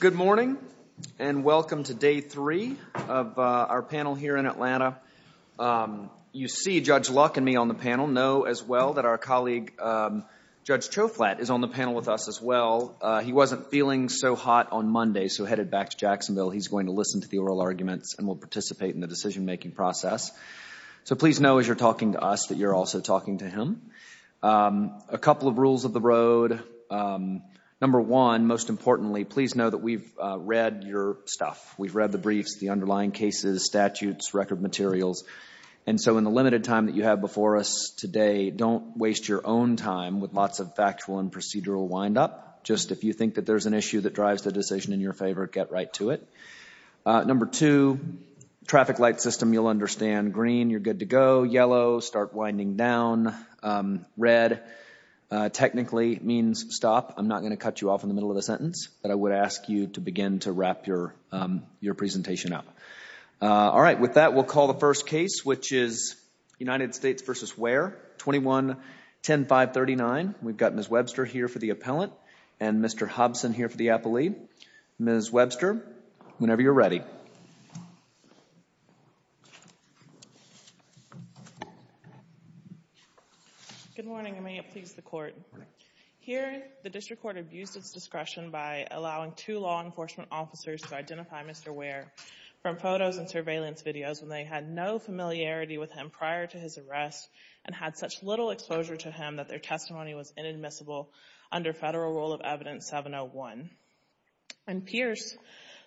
Good morning, and welcome to day three of our panel here in Atlanta. You see Judge Luck and me on the panel. Know as well that our colleague Judge Choflat is on the panel with us as well. He wasn't feeling so hot on Monday, so headed back to Jacksonville. He's going to listen to the oral arguments and will participate in the decision-making process. So please know as you're talking to us that you're also talking to him. A couple of rules of the road. Number one, most importantly, please know that we've read your stuff. We've read the briefs, the underlying cases, statutes, record materials. And so in the limited time that you have before us today, don't waste your own time with lots of factual and procedural windup. Just if you think that there's an issue that drives the decision in your favor, get right to it. Number two, traffic light system you'll understand. Green, you're good to go. Yellow, start winding down. Red, technically means stop. I'm not going to cut you off in the middle of the sentence, but I would ask you to begin to wrap your presentation up. All right. With that, we'll call the first case, which is United States v. Ware, 21-10-539. We've got Ms. Webster here for the appellant and Mr. Hobson here for the appellee. Ms. Webster, whenever you're ready. Good morning, and may it please the Court. Here the District Court abused its discretion by allowing two law enforcement officers to identify Mr. Ware from photos and surveillance videos when they had no familiarity with him prior to his arrest and had such little exposure to him that their testimony was inadmissible under Federal Rule of Evidence 701. In Pierce,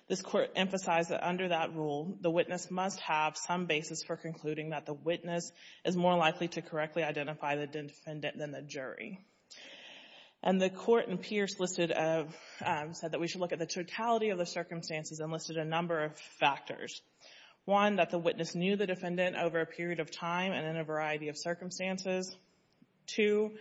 this Court emphasized that under that rule, the witness must have some basis for concluding that the witness is more likely to correctly identify the defendant than the jury. The Court in Pierce said that we should look at the totality of the circumstances and listed a number of factors. One, that the witness knew the defendant over a period of time and in a variety of circumstances. Two,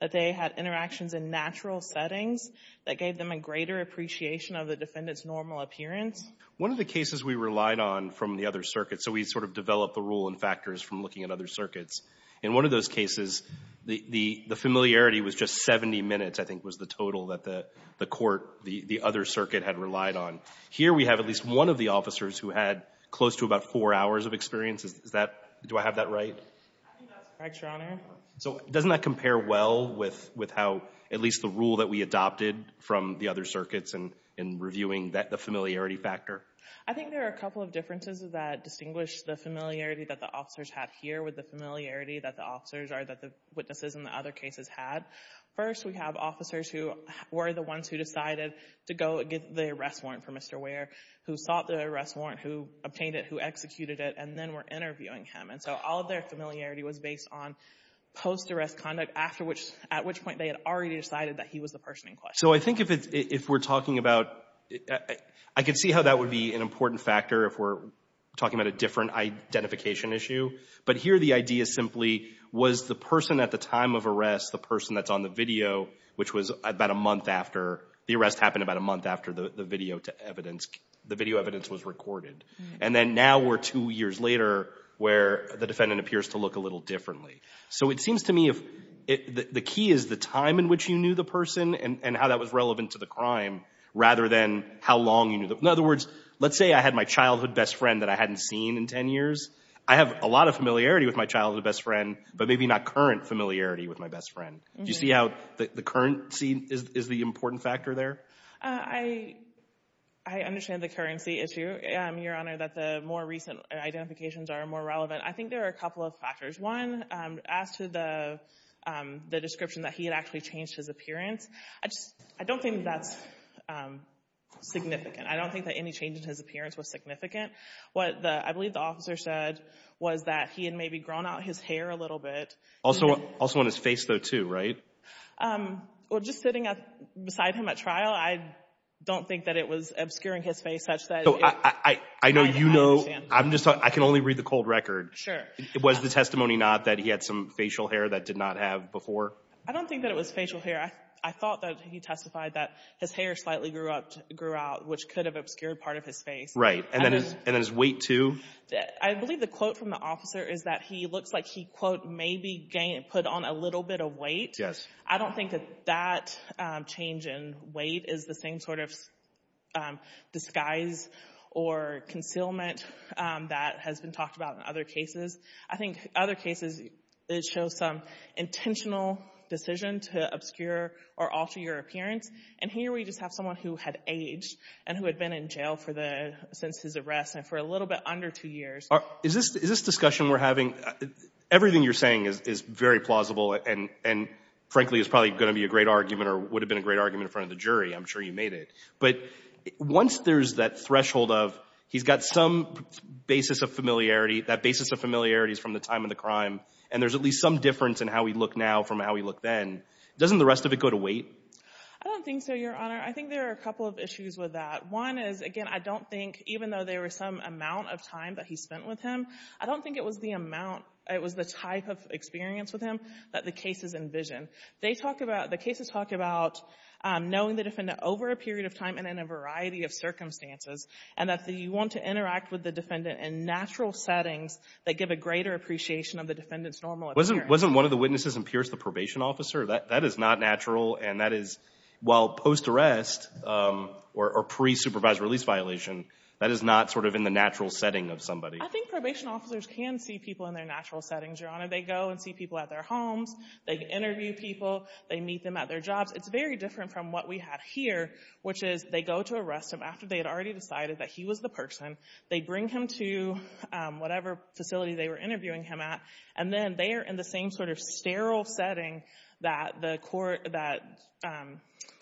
that they had interactions in natural settings that gave them a greater appreciation of the defendant's normal appearance. One of the cases we relied on from the other circuits, so we sort of developed the rule and factors from looking at other circuits. In one of those cases, the familiarity was just 70 minutes, I think was the total that the court, the other circuit had relied on. Here we have at least one of the officers who had close to about four hours of experience. Is that do I have that right? I think that's correct, Your Honor. So doesn't that compare well with how at least the rule that we adopted from the other circuit factor? I think there are a couple of differences that distinguish the familiarity that the officers had here with the familiarity that the officers or that the witnesses in the other cases had. First, we have officers who were the ones who decided to go get the arrest warrant for Mr. Ware, who sought the arrest warrant, who obtained it, who executed it, and then were interviewing him. And so all of their familiarity was based on post-arrest conduct, after which, at which point they had already decided that he was the person in question. So I think if it's, if we're talking about, I could see how that would be an important factor if we're talking about a different identification issue. But here the idea simply was the person at the time of arrest, the person that's on the video, which was about a month after, the arrest happened about a month after the video to evidence, the video evidence was recorded. And then now we're two years later where the defendant appears to look a little differently. So it seems to me the key is the time in which you knew the person and how that was relevant to the crime rather than how long you knew. In other words, let's say I had my childhood best friend that I hadn't seen in 10 years. I have a lot of familiarity with my childhood best friend, but maybe not current familiarity with my best friend. Do you see how the current scene is the important factor there? I understand the currency issue, Your Honor, that the more recent identifications are more relevant. I think there are a couple of factors. One, as to the description that he had actually changed his appearance, I just, I don't think that's significant. I don't think that any change in his appearance was significant. What the, I believe the officer said was that he had maybe grown out his hair a little bit. Also on his face though, too, right? Well, just sitting beside him at trial, I don't think that it was obscuring his face such that it might have had a chance. I know you know. I'm just talking, I can only read the cold record. Sure. Was the testimony not that he had some facial hair that did not have before? I don't think that it was facial hair. I thought that he testified that his hair slightly grew up, grew out, which could have obscured part of his face. Right. And then his weight, too? I believe the quote from the officer is that he looks like he, quote, maybe put on a little bit of weight. I don't think that that change in weight is the same sort of disguise or concealment that has been talked about in other cases. I think other cases, it shows some intentional decision to obscure or alter your appearance. And here we just have someone who had aged and who had been in jail for the, since his arrest and for a little bit under two years. Is this discussion we're having, everything you're saying is very plausible and frankly is probably going to be a great argument or would have been a great argument in front of the jury. I'm sure you made it. But once there's that threshold of he's got some basis of familiarity, that basis of familiarity is from the time of the crime, and there's at least some difference in how we look now from how we look then, doesn't the rest of it go to weight? I don't think so, Your Honor. I think there are a couple of issues with that. One is, again, I don't think, even though there was some amount of time that he spent with him, I don't think it was the amount, it was the type of experience with him that the cases envision. They talk about, the cases talk about knowing the defendant over a period of time and in a variety of circumstances, and that you want to interact with the defendant in natural settings that give a greater appreciation of the defendant's normal appearance. Wasn't one of the witnesses in Pierce the probation officer? That is not natural and that is, while post-arrest or pre-supervised release violation, that is not sort of in the natural setting of somebody. I think probation officers can see people in their natural settings, Your Honor. They go and see people at their homes. They interview people. They meet them at their jobs. It's very different from what we have here, which is they go to arrest him after they had already decided that he was the person. They bring him to whatever facility they were interviewing him at, and then they are in the same sort of sterile setting that the court, that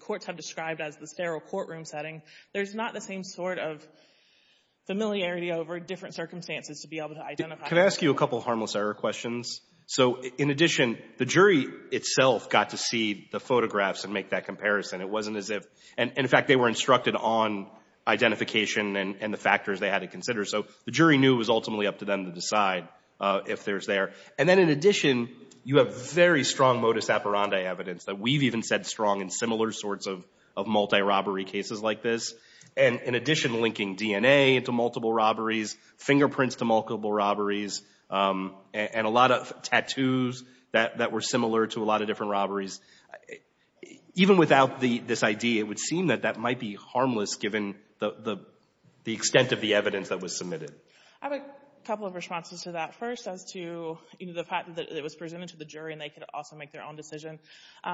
courts have described as the sterile courtroom setting. There's not the same sort of familiarity over different circumstances to be able to identify. Can I ask you a couple of harmless error questions? So, in addition, the jury itself got to see the photographs and make that comparison. It wasn't as if, and in fact, they were instructed on identification and the factors they had to consider. So the jury knew it was ultimately up to them to decide if there's there. And then, in addition, you have very strong modus operandi evidence that we've even said strong in similar sorts of multi-robbery cases like this. And, in addition, linking DNA into multiple robberies, fingerprints to multiple robberies, and a lot of tattoos that were similar to a lot of different robberies. Even without the, this ID, it would seem that that might be harmless given the extent of the evidence that was submitted. I have a couple of responses to that. First, as to, you know, the fact that it was presented to the jury and they could also make their own decision.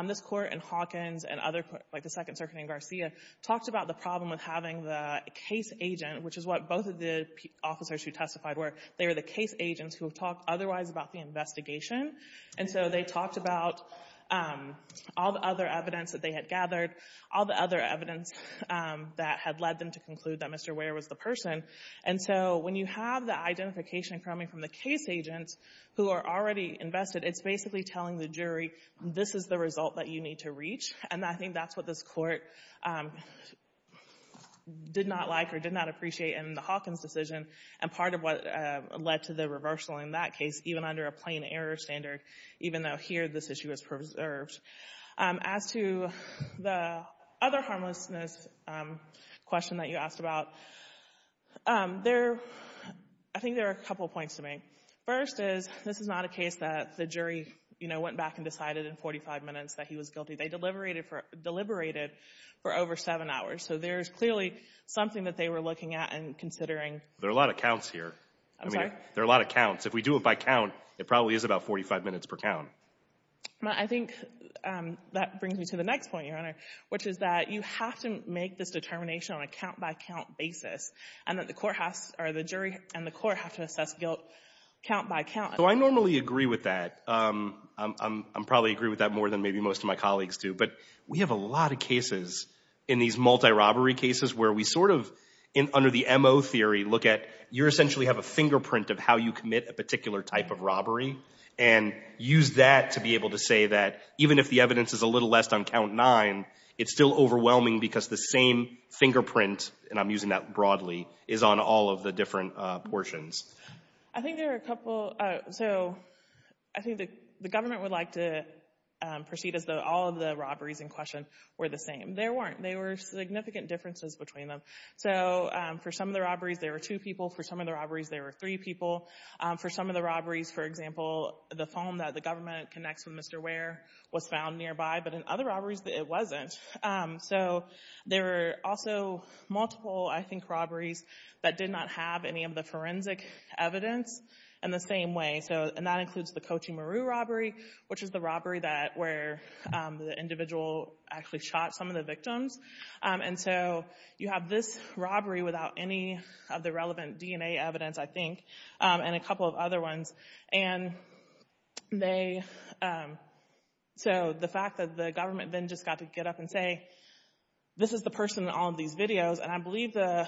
This Court in Hawkins and other, like the Second Circuit in Garcia, talked about the problem with having the case agent, which is what both of the officers who testified were. They were the case agents who have talked otherwise about the investigation. And so they talked about all the other evidence that they had gathered, all the other evidence that had led them to conclude that Mr. Ware was the person. And so when you have the identification coming from the case agents who are already invested, it's basically telling the jury, this is the result that you need to reach. And I think that's what this Court did not like or did not appreciate in the Hawkins decision and part of what led to the reversal in that case, even under a plain error standard, even though here this issue is preserved. As to the other harmlessness question that you asked about, there, I think there are a couple of points to make. First is, this is not a case that the jury, you know, went back and decided in 45 minutes that he was guilty. They deliberated for over seven hours. So there's clearly something that they were looking at and considering. There are a lot of counts here. I mean, there are a lot of counts. If we do it by count, it probably is about 45 minutes per count. I think that brings me to the next point, Your Honor, which is that you have to make this determination on a count-by-count basis and that the court has, or the jury and the court have to assess guilt count-by-count. So I normally agree with that. I probably agree with that more than maybe most of my colleagues do. But we have a lot of cases in these multi-robbery cases where we sort of, under the MO theory, look at, you essentially have a fingerprint of how you commit a particular type of robbery and use that to be able to say that even if the evidence is a little less than count nine, it's still overwhelming because the same fingerprint, and I'm using that broadly, is on all of the different portions. I think there are a couple. So I think the government would like to proceed as though all of the robberies in question were the same. They weren't. There were significant differences between them. So for some of the robberies, there were two people. For some of the robberies, for example, the phone that the government connects with Mr. Ware was found nearby. But in other robberies, it wasn't. So there were also multiple, I think, robberies that did not have any of the forensic evidence in the same way. And that includes the Cochimaru robbery, which is the robbery where the individual actually shot some of the victims. And so you have this robbery without any of the relevant DNA evidence, I think, and a couple of other ones. And they, so the fact that the government then just got to get up and say, this is the person in all of these videos. And I believe the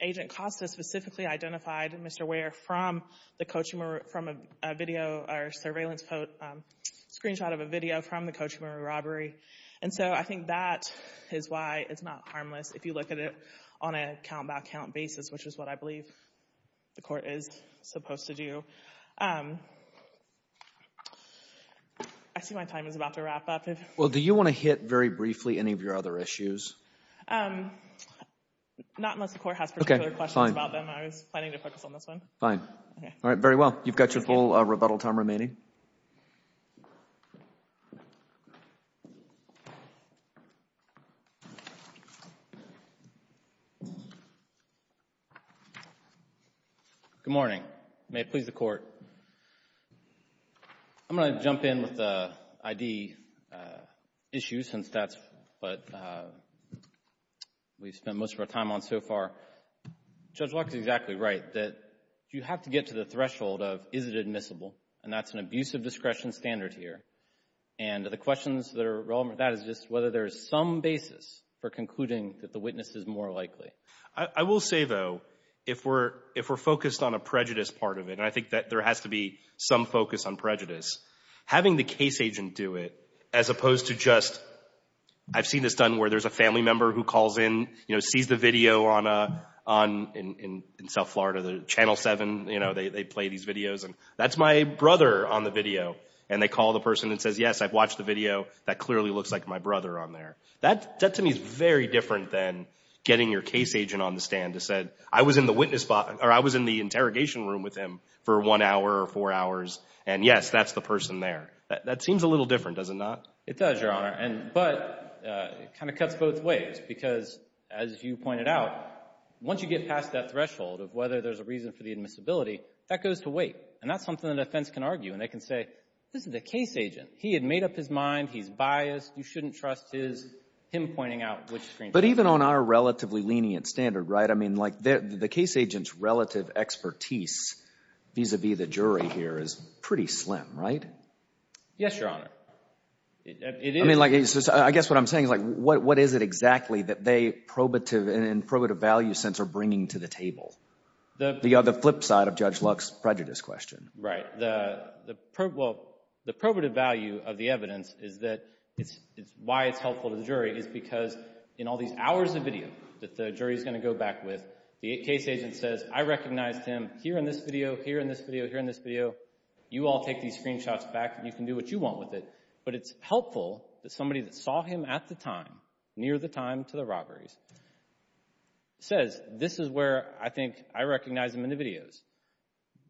agent Costa specifically identified Mr. Ware from the Cochimaru, from a video or surveillance screenshot of a video from the Cochimaru robbery. And so I think that is why it's not harmless if you look at it on a count-by-count basis, which is what I believe the court is supposed to do. I see my time is about to wrap up. Well, do you want to hit very briefly any of your other issues? Not unless the court has particular questions about them. I was planning to focus on this one. Fine. All right. Very well. You've got your full rebuttal time remaining. Good morning. May it please the Court. I'm going to jump in with the ID issue, since that's what we've spent most of our time on so far. Judge Locke is exactly right that you have to get to the threshold of, is it admissible? And that's an abuse of discretion standard here. And the questions that are relevant to that is just whether there is some basis for concluding that the witness is more likely. I will say, though, if we're focused on a prejudice part of it, and I think that there has to be some focus on prejudice, having the case agent do it, as opposed to just, I've seen this done where there's a family member who calls in, sees the video in South Florida, the Channel 7, they play these videos, and that's my brother on the video. And they call the person and say, yes, I've watched the video. That clearly looks like my brother on there. That, to me, is very different than getting your case agent on the stand to say, I was in the witness box, or I was in the interrogation room with him for one hour or four hours, and, yes, that's the person there. That seems a little different, does it not? It does, Your Honor. But it kind of cuts both ways because, as you pointed out, once you get past that threshold of whether there's a reason for the admissibility, that goes to wait. And that's something the defense can argue. And they can say, this is a case agent. He had made up his mind. He's biased. You shouldn't trust him pointing out which screen time. But even on our relatively lenient standard, right, I mean, like, the case agent's relative expertise vis-à-vis the jury here is pretty slim, right? Yes, Your Honor. I mean, like, I guess what I'm saying is, like, what is it exactly that they, in probative value sense, are bringing to the table? The flip side of Judge Luck's prejudice question. Right. Well, the probative value of the evidence is that why it's helpful to the jury is because in all these hours of video that the jury's going to go back with, the case agent says, I recognized him here in this video, here in this video, here in this video. You all take these screenshots back, and you can do what you want with it. But it's helpful that somebody that saw him at the time, near the time to the robberies,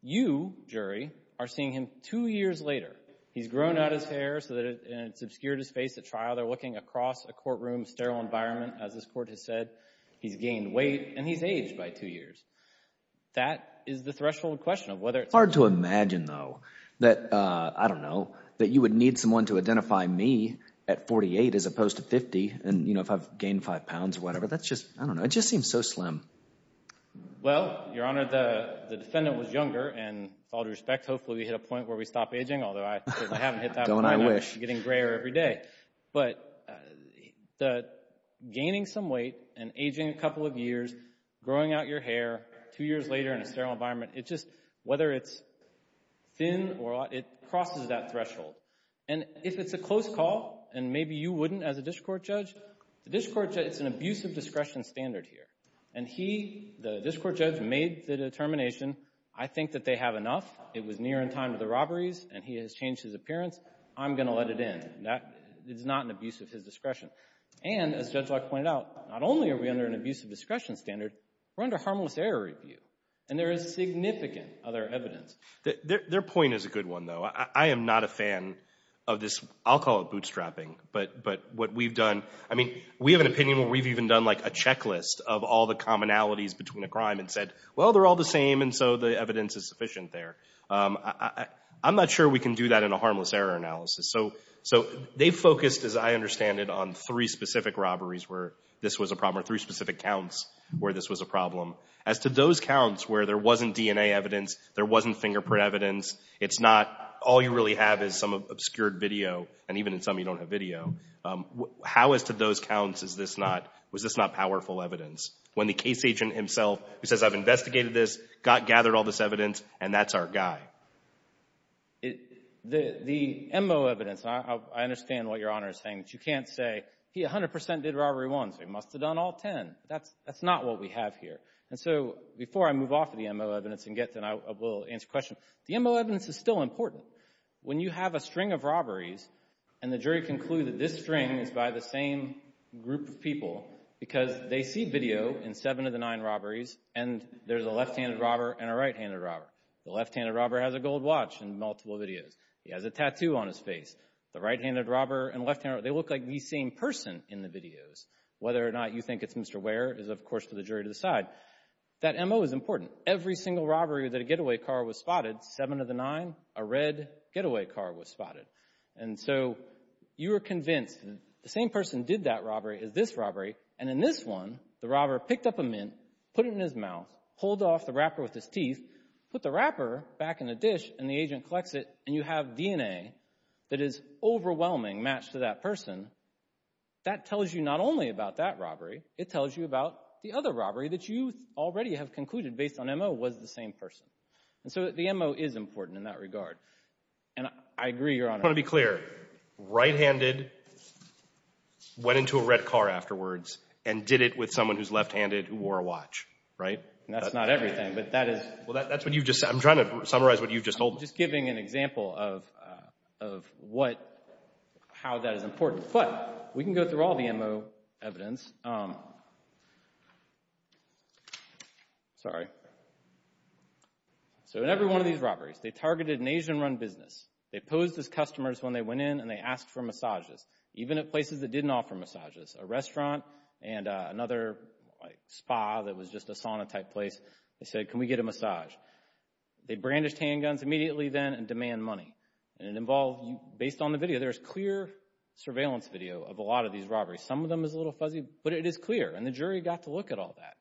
you, jury, are seeing him two years later. He's grown out his hair, and it's obscured his face at trial. They're looking across a courtroom, sterile environment, as this court has said. He's gained weight, and he's aged by two years. That is the threshold question of whether it's helpful. It's hard to imagine, though, that, I don't know, that you would need someone to identify me at 48 as opposed to 50, and, you know, if I've gained five pounds or whatever. That's just, I don't know. It just seems so slim. Well, Your Honor, the defendant was younger, and with all due respect, hopefully we hit a point where we stop aging, although I certainly haven't hit that point. Don't I wish. I'm getting grayer every day. But gaining some weight and aging a couple of years, growing out your hair two years later in a sterile environment, it just, whether it's thin or, it crosses that threshold. And if it's a close call, and maybe you wouldn't as a district court judge, the district court judge, it's an abuse of discretion standard here. And he, the district court judge, made the determination, I think that they have enough. It was near in time to the robberies, and he has changed his appearance. I'm going to let it in. That is not an abuse of his discretion. And, as Judge Locke pointed out, not only are we under an abuse of discretion standard, we're under harmless error review, and there is significant other evidence. Their point is a good one, though. I am not a fan of this, I'll call it bootstrapping, but what we've done, I mean, we have an opinion where we've even done, like, a checklist of all the commonalities between a crime and said, well, they're all the same, and so the evidence is sufficient there. I'm not sure we can do that in a harmless error analysis. So they focused, as I understand it, on three specific robberies where this was a problem, or three specific counts where this was a problem. As to those counts where there wasn't DNA evidence, there wasn't fingerprint evidence, it's not, all you really have is some obscured video, and even in some you don't have video. How, as to those counts, is this not, was this not powerful evidence? When the case agent himself, who says, I've investigated this, gathered all this evidence, and that's our guy. The MO evidence, and I understand what Your Honor is saying, but you can't say, he 100 percent did robbery one, so he must have done all ten. That's not what we have here. And so, before I move off of the MO evidence and get to, and I will answer questions, the MO evidence is still important. When you have a string of robberies, and the jury concluded this string is by the same group of people, because they see video in seven of the nine robberies, and there's a left-handed robber and a right-handed robber. The left-handed robber has a gold watch in multiple videos. He has a tattoo on his face. The right-handed robber and left-handed robber, they look like the same person in the videos. Whether or not you think it's Mr. Ware is, of course, for the jury to decide. That MO is important. Every single robbery that a getaway car was spotted, seven of the nine, a red getaway car was spotted. And so, you are convinced the same person did that robbery as this robbery, and in this one, the robber picked up a mint, put it in his mouth, pulled off the wrapper with his teeth, put the wrapper back in the dish, and the agent collects it, and you have DNA that is overwhelming, matched to that person. That tells you not only about that robbery, it tells you about the other robbery that you already have concluded, based on MO, was the same person. And so, the MO is important in that regard. And I agree, Your Honor. I want to be clear. Right-handed went into a red car afterwards and did it with someone who's left-handed who wore a watch, right? That's not everything, but that is... Well, that's what you've just said. I'm trying to summarize what you've just told me. I'm just giving an example of what, how that is important. But we can go through all the MO evidence. Sorry. So, in every one of these robberies, they targeted an Asian-run business. They posed as customers when they went in, and they asked for massages, even at places that didn't offer massages, a restaurant and another spa that was just a sauna-type place. They said, can we get a massage? They brandished handguns immediately then and demand money. And it involved, based on the video, there's clear surveillance video of a lot of these robberies. Some of them is a little fuzzy, but it is clear, and the jury got to look at all that.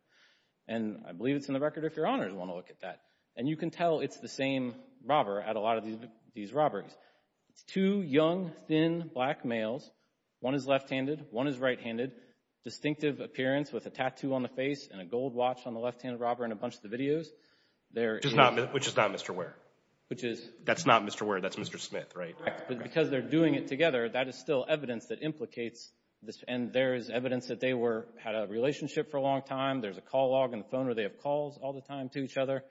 And I believe it's in the record if Your Honors want to look at that. And you can tell it's the same robber at a lot of these robberies. It's two young, thin, black males. One is left-handed. One is right-handed. Distinctive appearance with a tattoo on the face and a gold watch on the left-handed robber in a bunch of the videos. Which is not Mr. Ware. Which is... That's not Mr. Ware. That's Mr. Smith, right? Because they're doing it together, that is still evidence that implicates this. And there is evidence that they had a relationship for a long time. There's a call log on the phone where they have calls all the time to each other.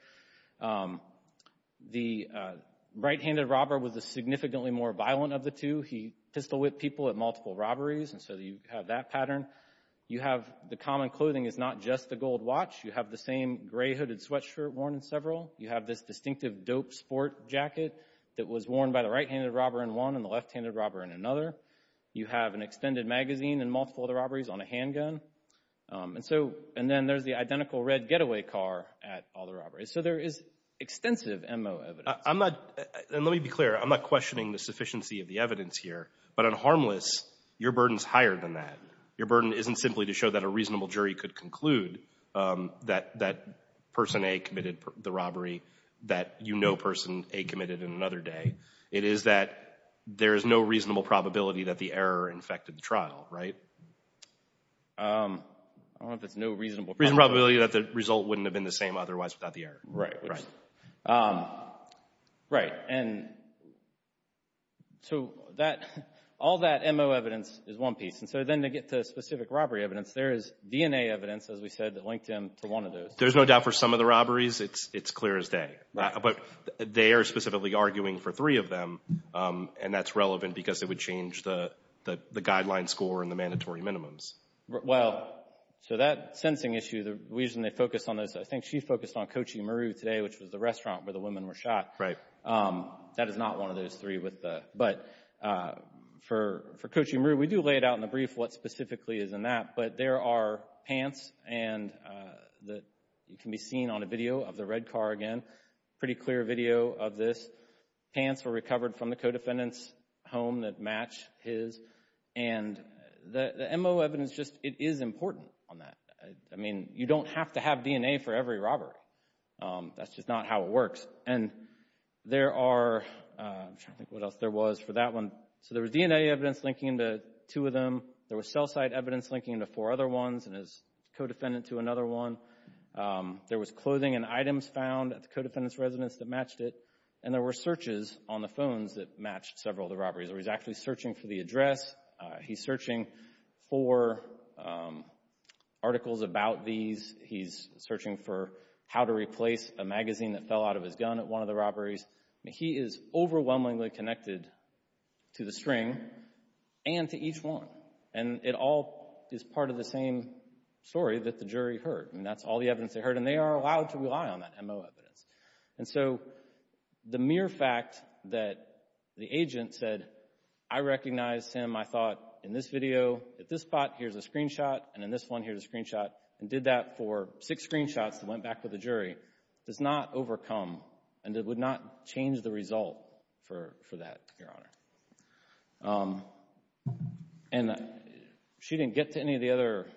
The right-handed robber was significantly more violent of the two. He pistol-whipped people at multiple robberies, and so you have that pattern. You have the common clothing is not just the gold watch. You have the same gray-hooded sweatshirt worn in several. You have this distinctive dope sport jacket that was worn by the right-handed robber in one and the left-handed robber in another. You have an extended magazine in multiple other robberies on a handgun. And then there's the identical red getaway car at all the robberies. So there is extensive MO evidence. And let me be clear. I'm not questioning the sufficiency of the evidence here. But on harmless, your burden is higher than that. Your burden isn't simply to show that a reasonable jury could conclude that person A committed the robbery, that you know person A committed in another day. It is that there is no reasonable probability that the error infected the trial, right? I don't know if it's no reasonable probability. Reasonable probability that the result wouldn't have been the same otherwise without the error. Right, right. Right, and so all that MO evidence is one piece. And so then to get to specific robbery evidence, there is DNA evidence, as we said, that linked him to one of those. There's no doubt for some of the robberies it's clear as day. But they are specifically arguing for three of them. And that's relevant because it would change the guideline score and the mandatory minimums. Well, so that sensing issue, the reason they focused on this, I think she focused on Kochi Maru today, which was the restaurant where the women were shot. Right. That is not one of those three. But for Kochi Maru, we do lay it out in the brief what specifically is in that. But there are pants, and that can be seen on a video of the red car again. Pretty clear video of this. Pants were recovered from the co-defendant's home that matched his. And the MO evidence, it is important on that. I mean, you don't have to have DNA for every robbery. That's just not how it works. And there are, I'm trying to think what else there was for that one. So there was DNA evidence linking to two of them. There was cell site evidence linking to four other ones and his co-defendant to another one. There was clothing and items found at the co-defendant's residence that matched it. And there were searches on the phones that matched several of the robberies. He was actually searching for the address. He's searching for articles about these. He's searching for how to replace a magazine that fell out of his gun at one of the robberies. I mean, he is overwhelmingly connected to the string and to each one. And it all is part of the same story that the jury heard. I mean, that's all the evidence they heard, and they are allowed to rely on that MO evidence. And so the mere fact that the agent said, I recognize him, I thought, in this video, at this spot, here's a screenshot, and in this one, here's a screenshot, and did that for six screenshots and went back with the jury, does not overcome and would not change the result for that, Your Honor. And she didn't get to any of the other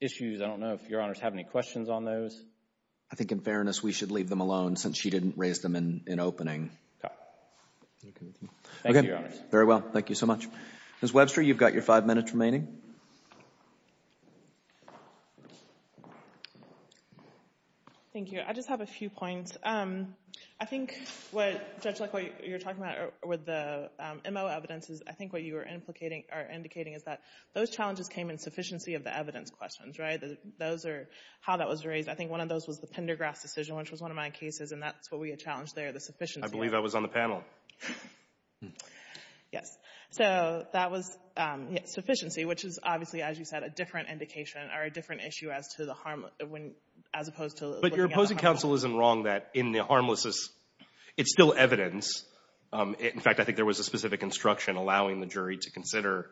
issues. I don't know if Your Honors have any questions on those. I think, in fairness, we should leave them alone since she didn't raise them in opening. Okay. Thank you, Your Honors. Very well. Thank you so much. Ms. Webster, you've got your five minutes remaining. Thank you. I just have a few points. I think, Judge Luck, what you're talking about with the MO evidence is I think what you are indicating is that those challenges came in sufficiency of the evidence questions, right? Those are how that was raised. I think one of those was the Pendergrass decision, which was one of my cases, and that's what we had challenged there, the sufficiency. I believe I was on the panel. Yes. So that was sufficiency, which is obviously, as you said, a different indication or a different issue as opposed to looking at the harmlessness. But your opposing counsel isn't wrong that in the harmlessness, it's still evidence. In fact, I think there was a specific instruction allowing the jury to consider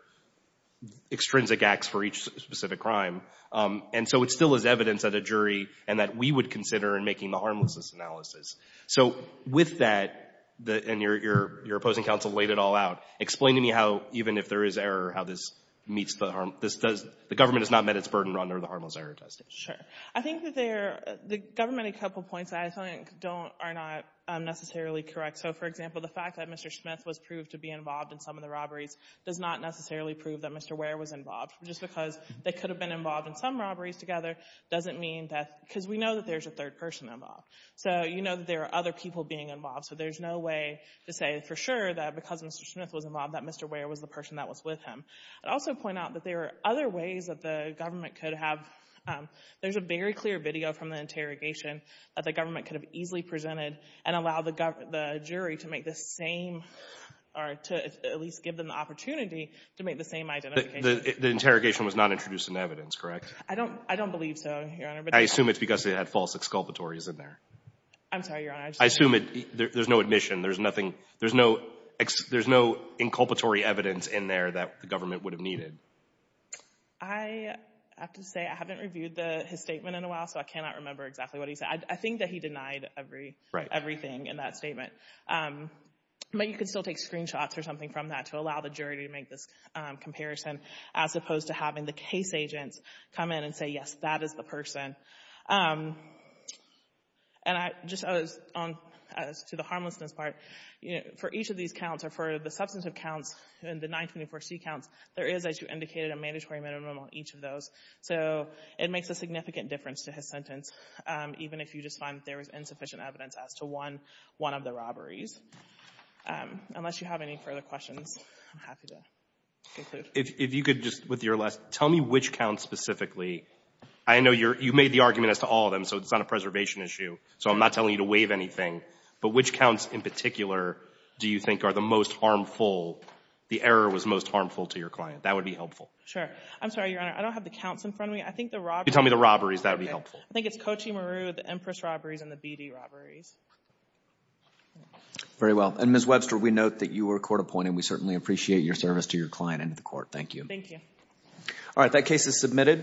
extrinsic acts for each specific crime. And so it still is evidence at a jury and that we would consider in making the harmlessness analysis. So with that, and your opposing counsel laid it all out, explain to me how, even if there is error, how this meets the harm. The government has not met its burden under the harmless error testing. Sure. I think the government, a couple points I think are not necessarily correct. So, for example, the fact that Mr. Smith was proved to be involved in some of the robberies does not necessarily prove that Mr. Ware was involved. Just because they could have been involved in some robberies together doesn't mean that because we know that there's a third person involved. So you know that there are other people being involved. So there's no way to say for sure that because Mr. Smith was involved that Mr. Ware was the person that was with him. I'd also point out that there are other ways that the government could have — there's a very clear video from the interrogation that the government could have easily presented and allowed the jury to make the same or to at least give them the opportunity to make the same identification. The interrogation was not introduced in evidence, correct? I don't believe so, Your Honor. I assume it's because it had false exculpatories in there. I'm sorry, Your Honor. I assume there's no admission. There's no inculpatory evidence in there that the government would have needed. I have to say I haven't reviewed his statement in a while, so I cannot remember exactly what he said. I think that he denied everything in that statement. But you can still take screenshots or something from that to allow the jury to make this comparison as opposed to having the case agents come in and say, yes, that is the person. And I just — to the harmlessness part, for each of these counts or for the substantive counts and the 924C counts, there is, as you indicated, a mandatory minimum on each of those. So it makes a significant difference to his sentence, even if you just find that there is insufficient evidence as to one of the robberies. Unless you have any further questions, I'm happy to conclude. If you could just, with your last — tell me which counts specifically — I know you made the argument as to all of them, so it's not a preservation issue. So I'm not telling you to waive anything. But which counts in particular do you think are the most harmful — the error was most harmful to your client? That would be helpful. Sure. I'm sorry, Your Honor. I don't have the counts in front of me. I think the robberies — Can you tell me the robberies? That would be helpful. I think it's Kochi Maru, the Empress robberies, and the BD robberies. Very well. And, Ms. Webster, we note that you were court appointed. And we certainly appreciate your service to your client and to the court. Thank you. Thank you. All right.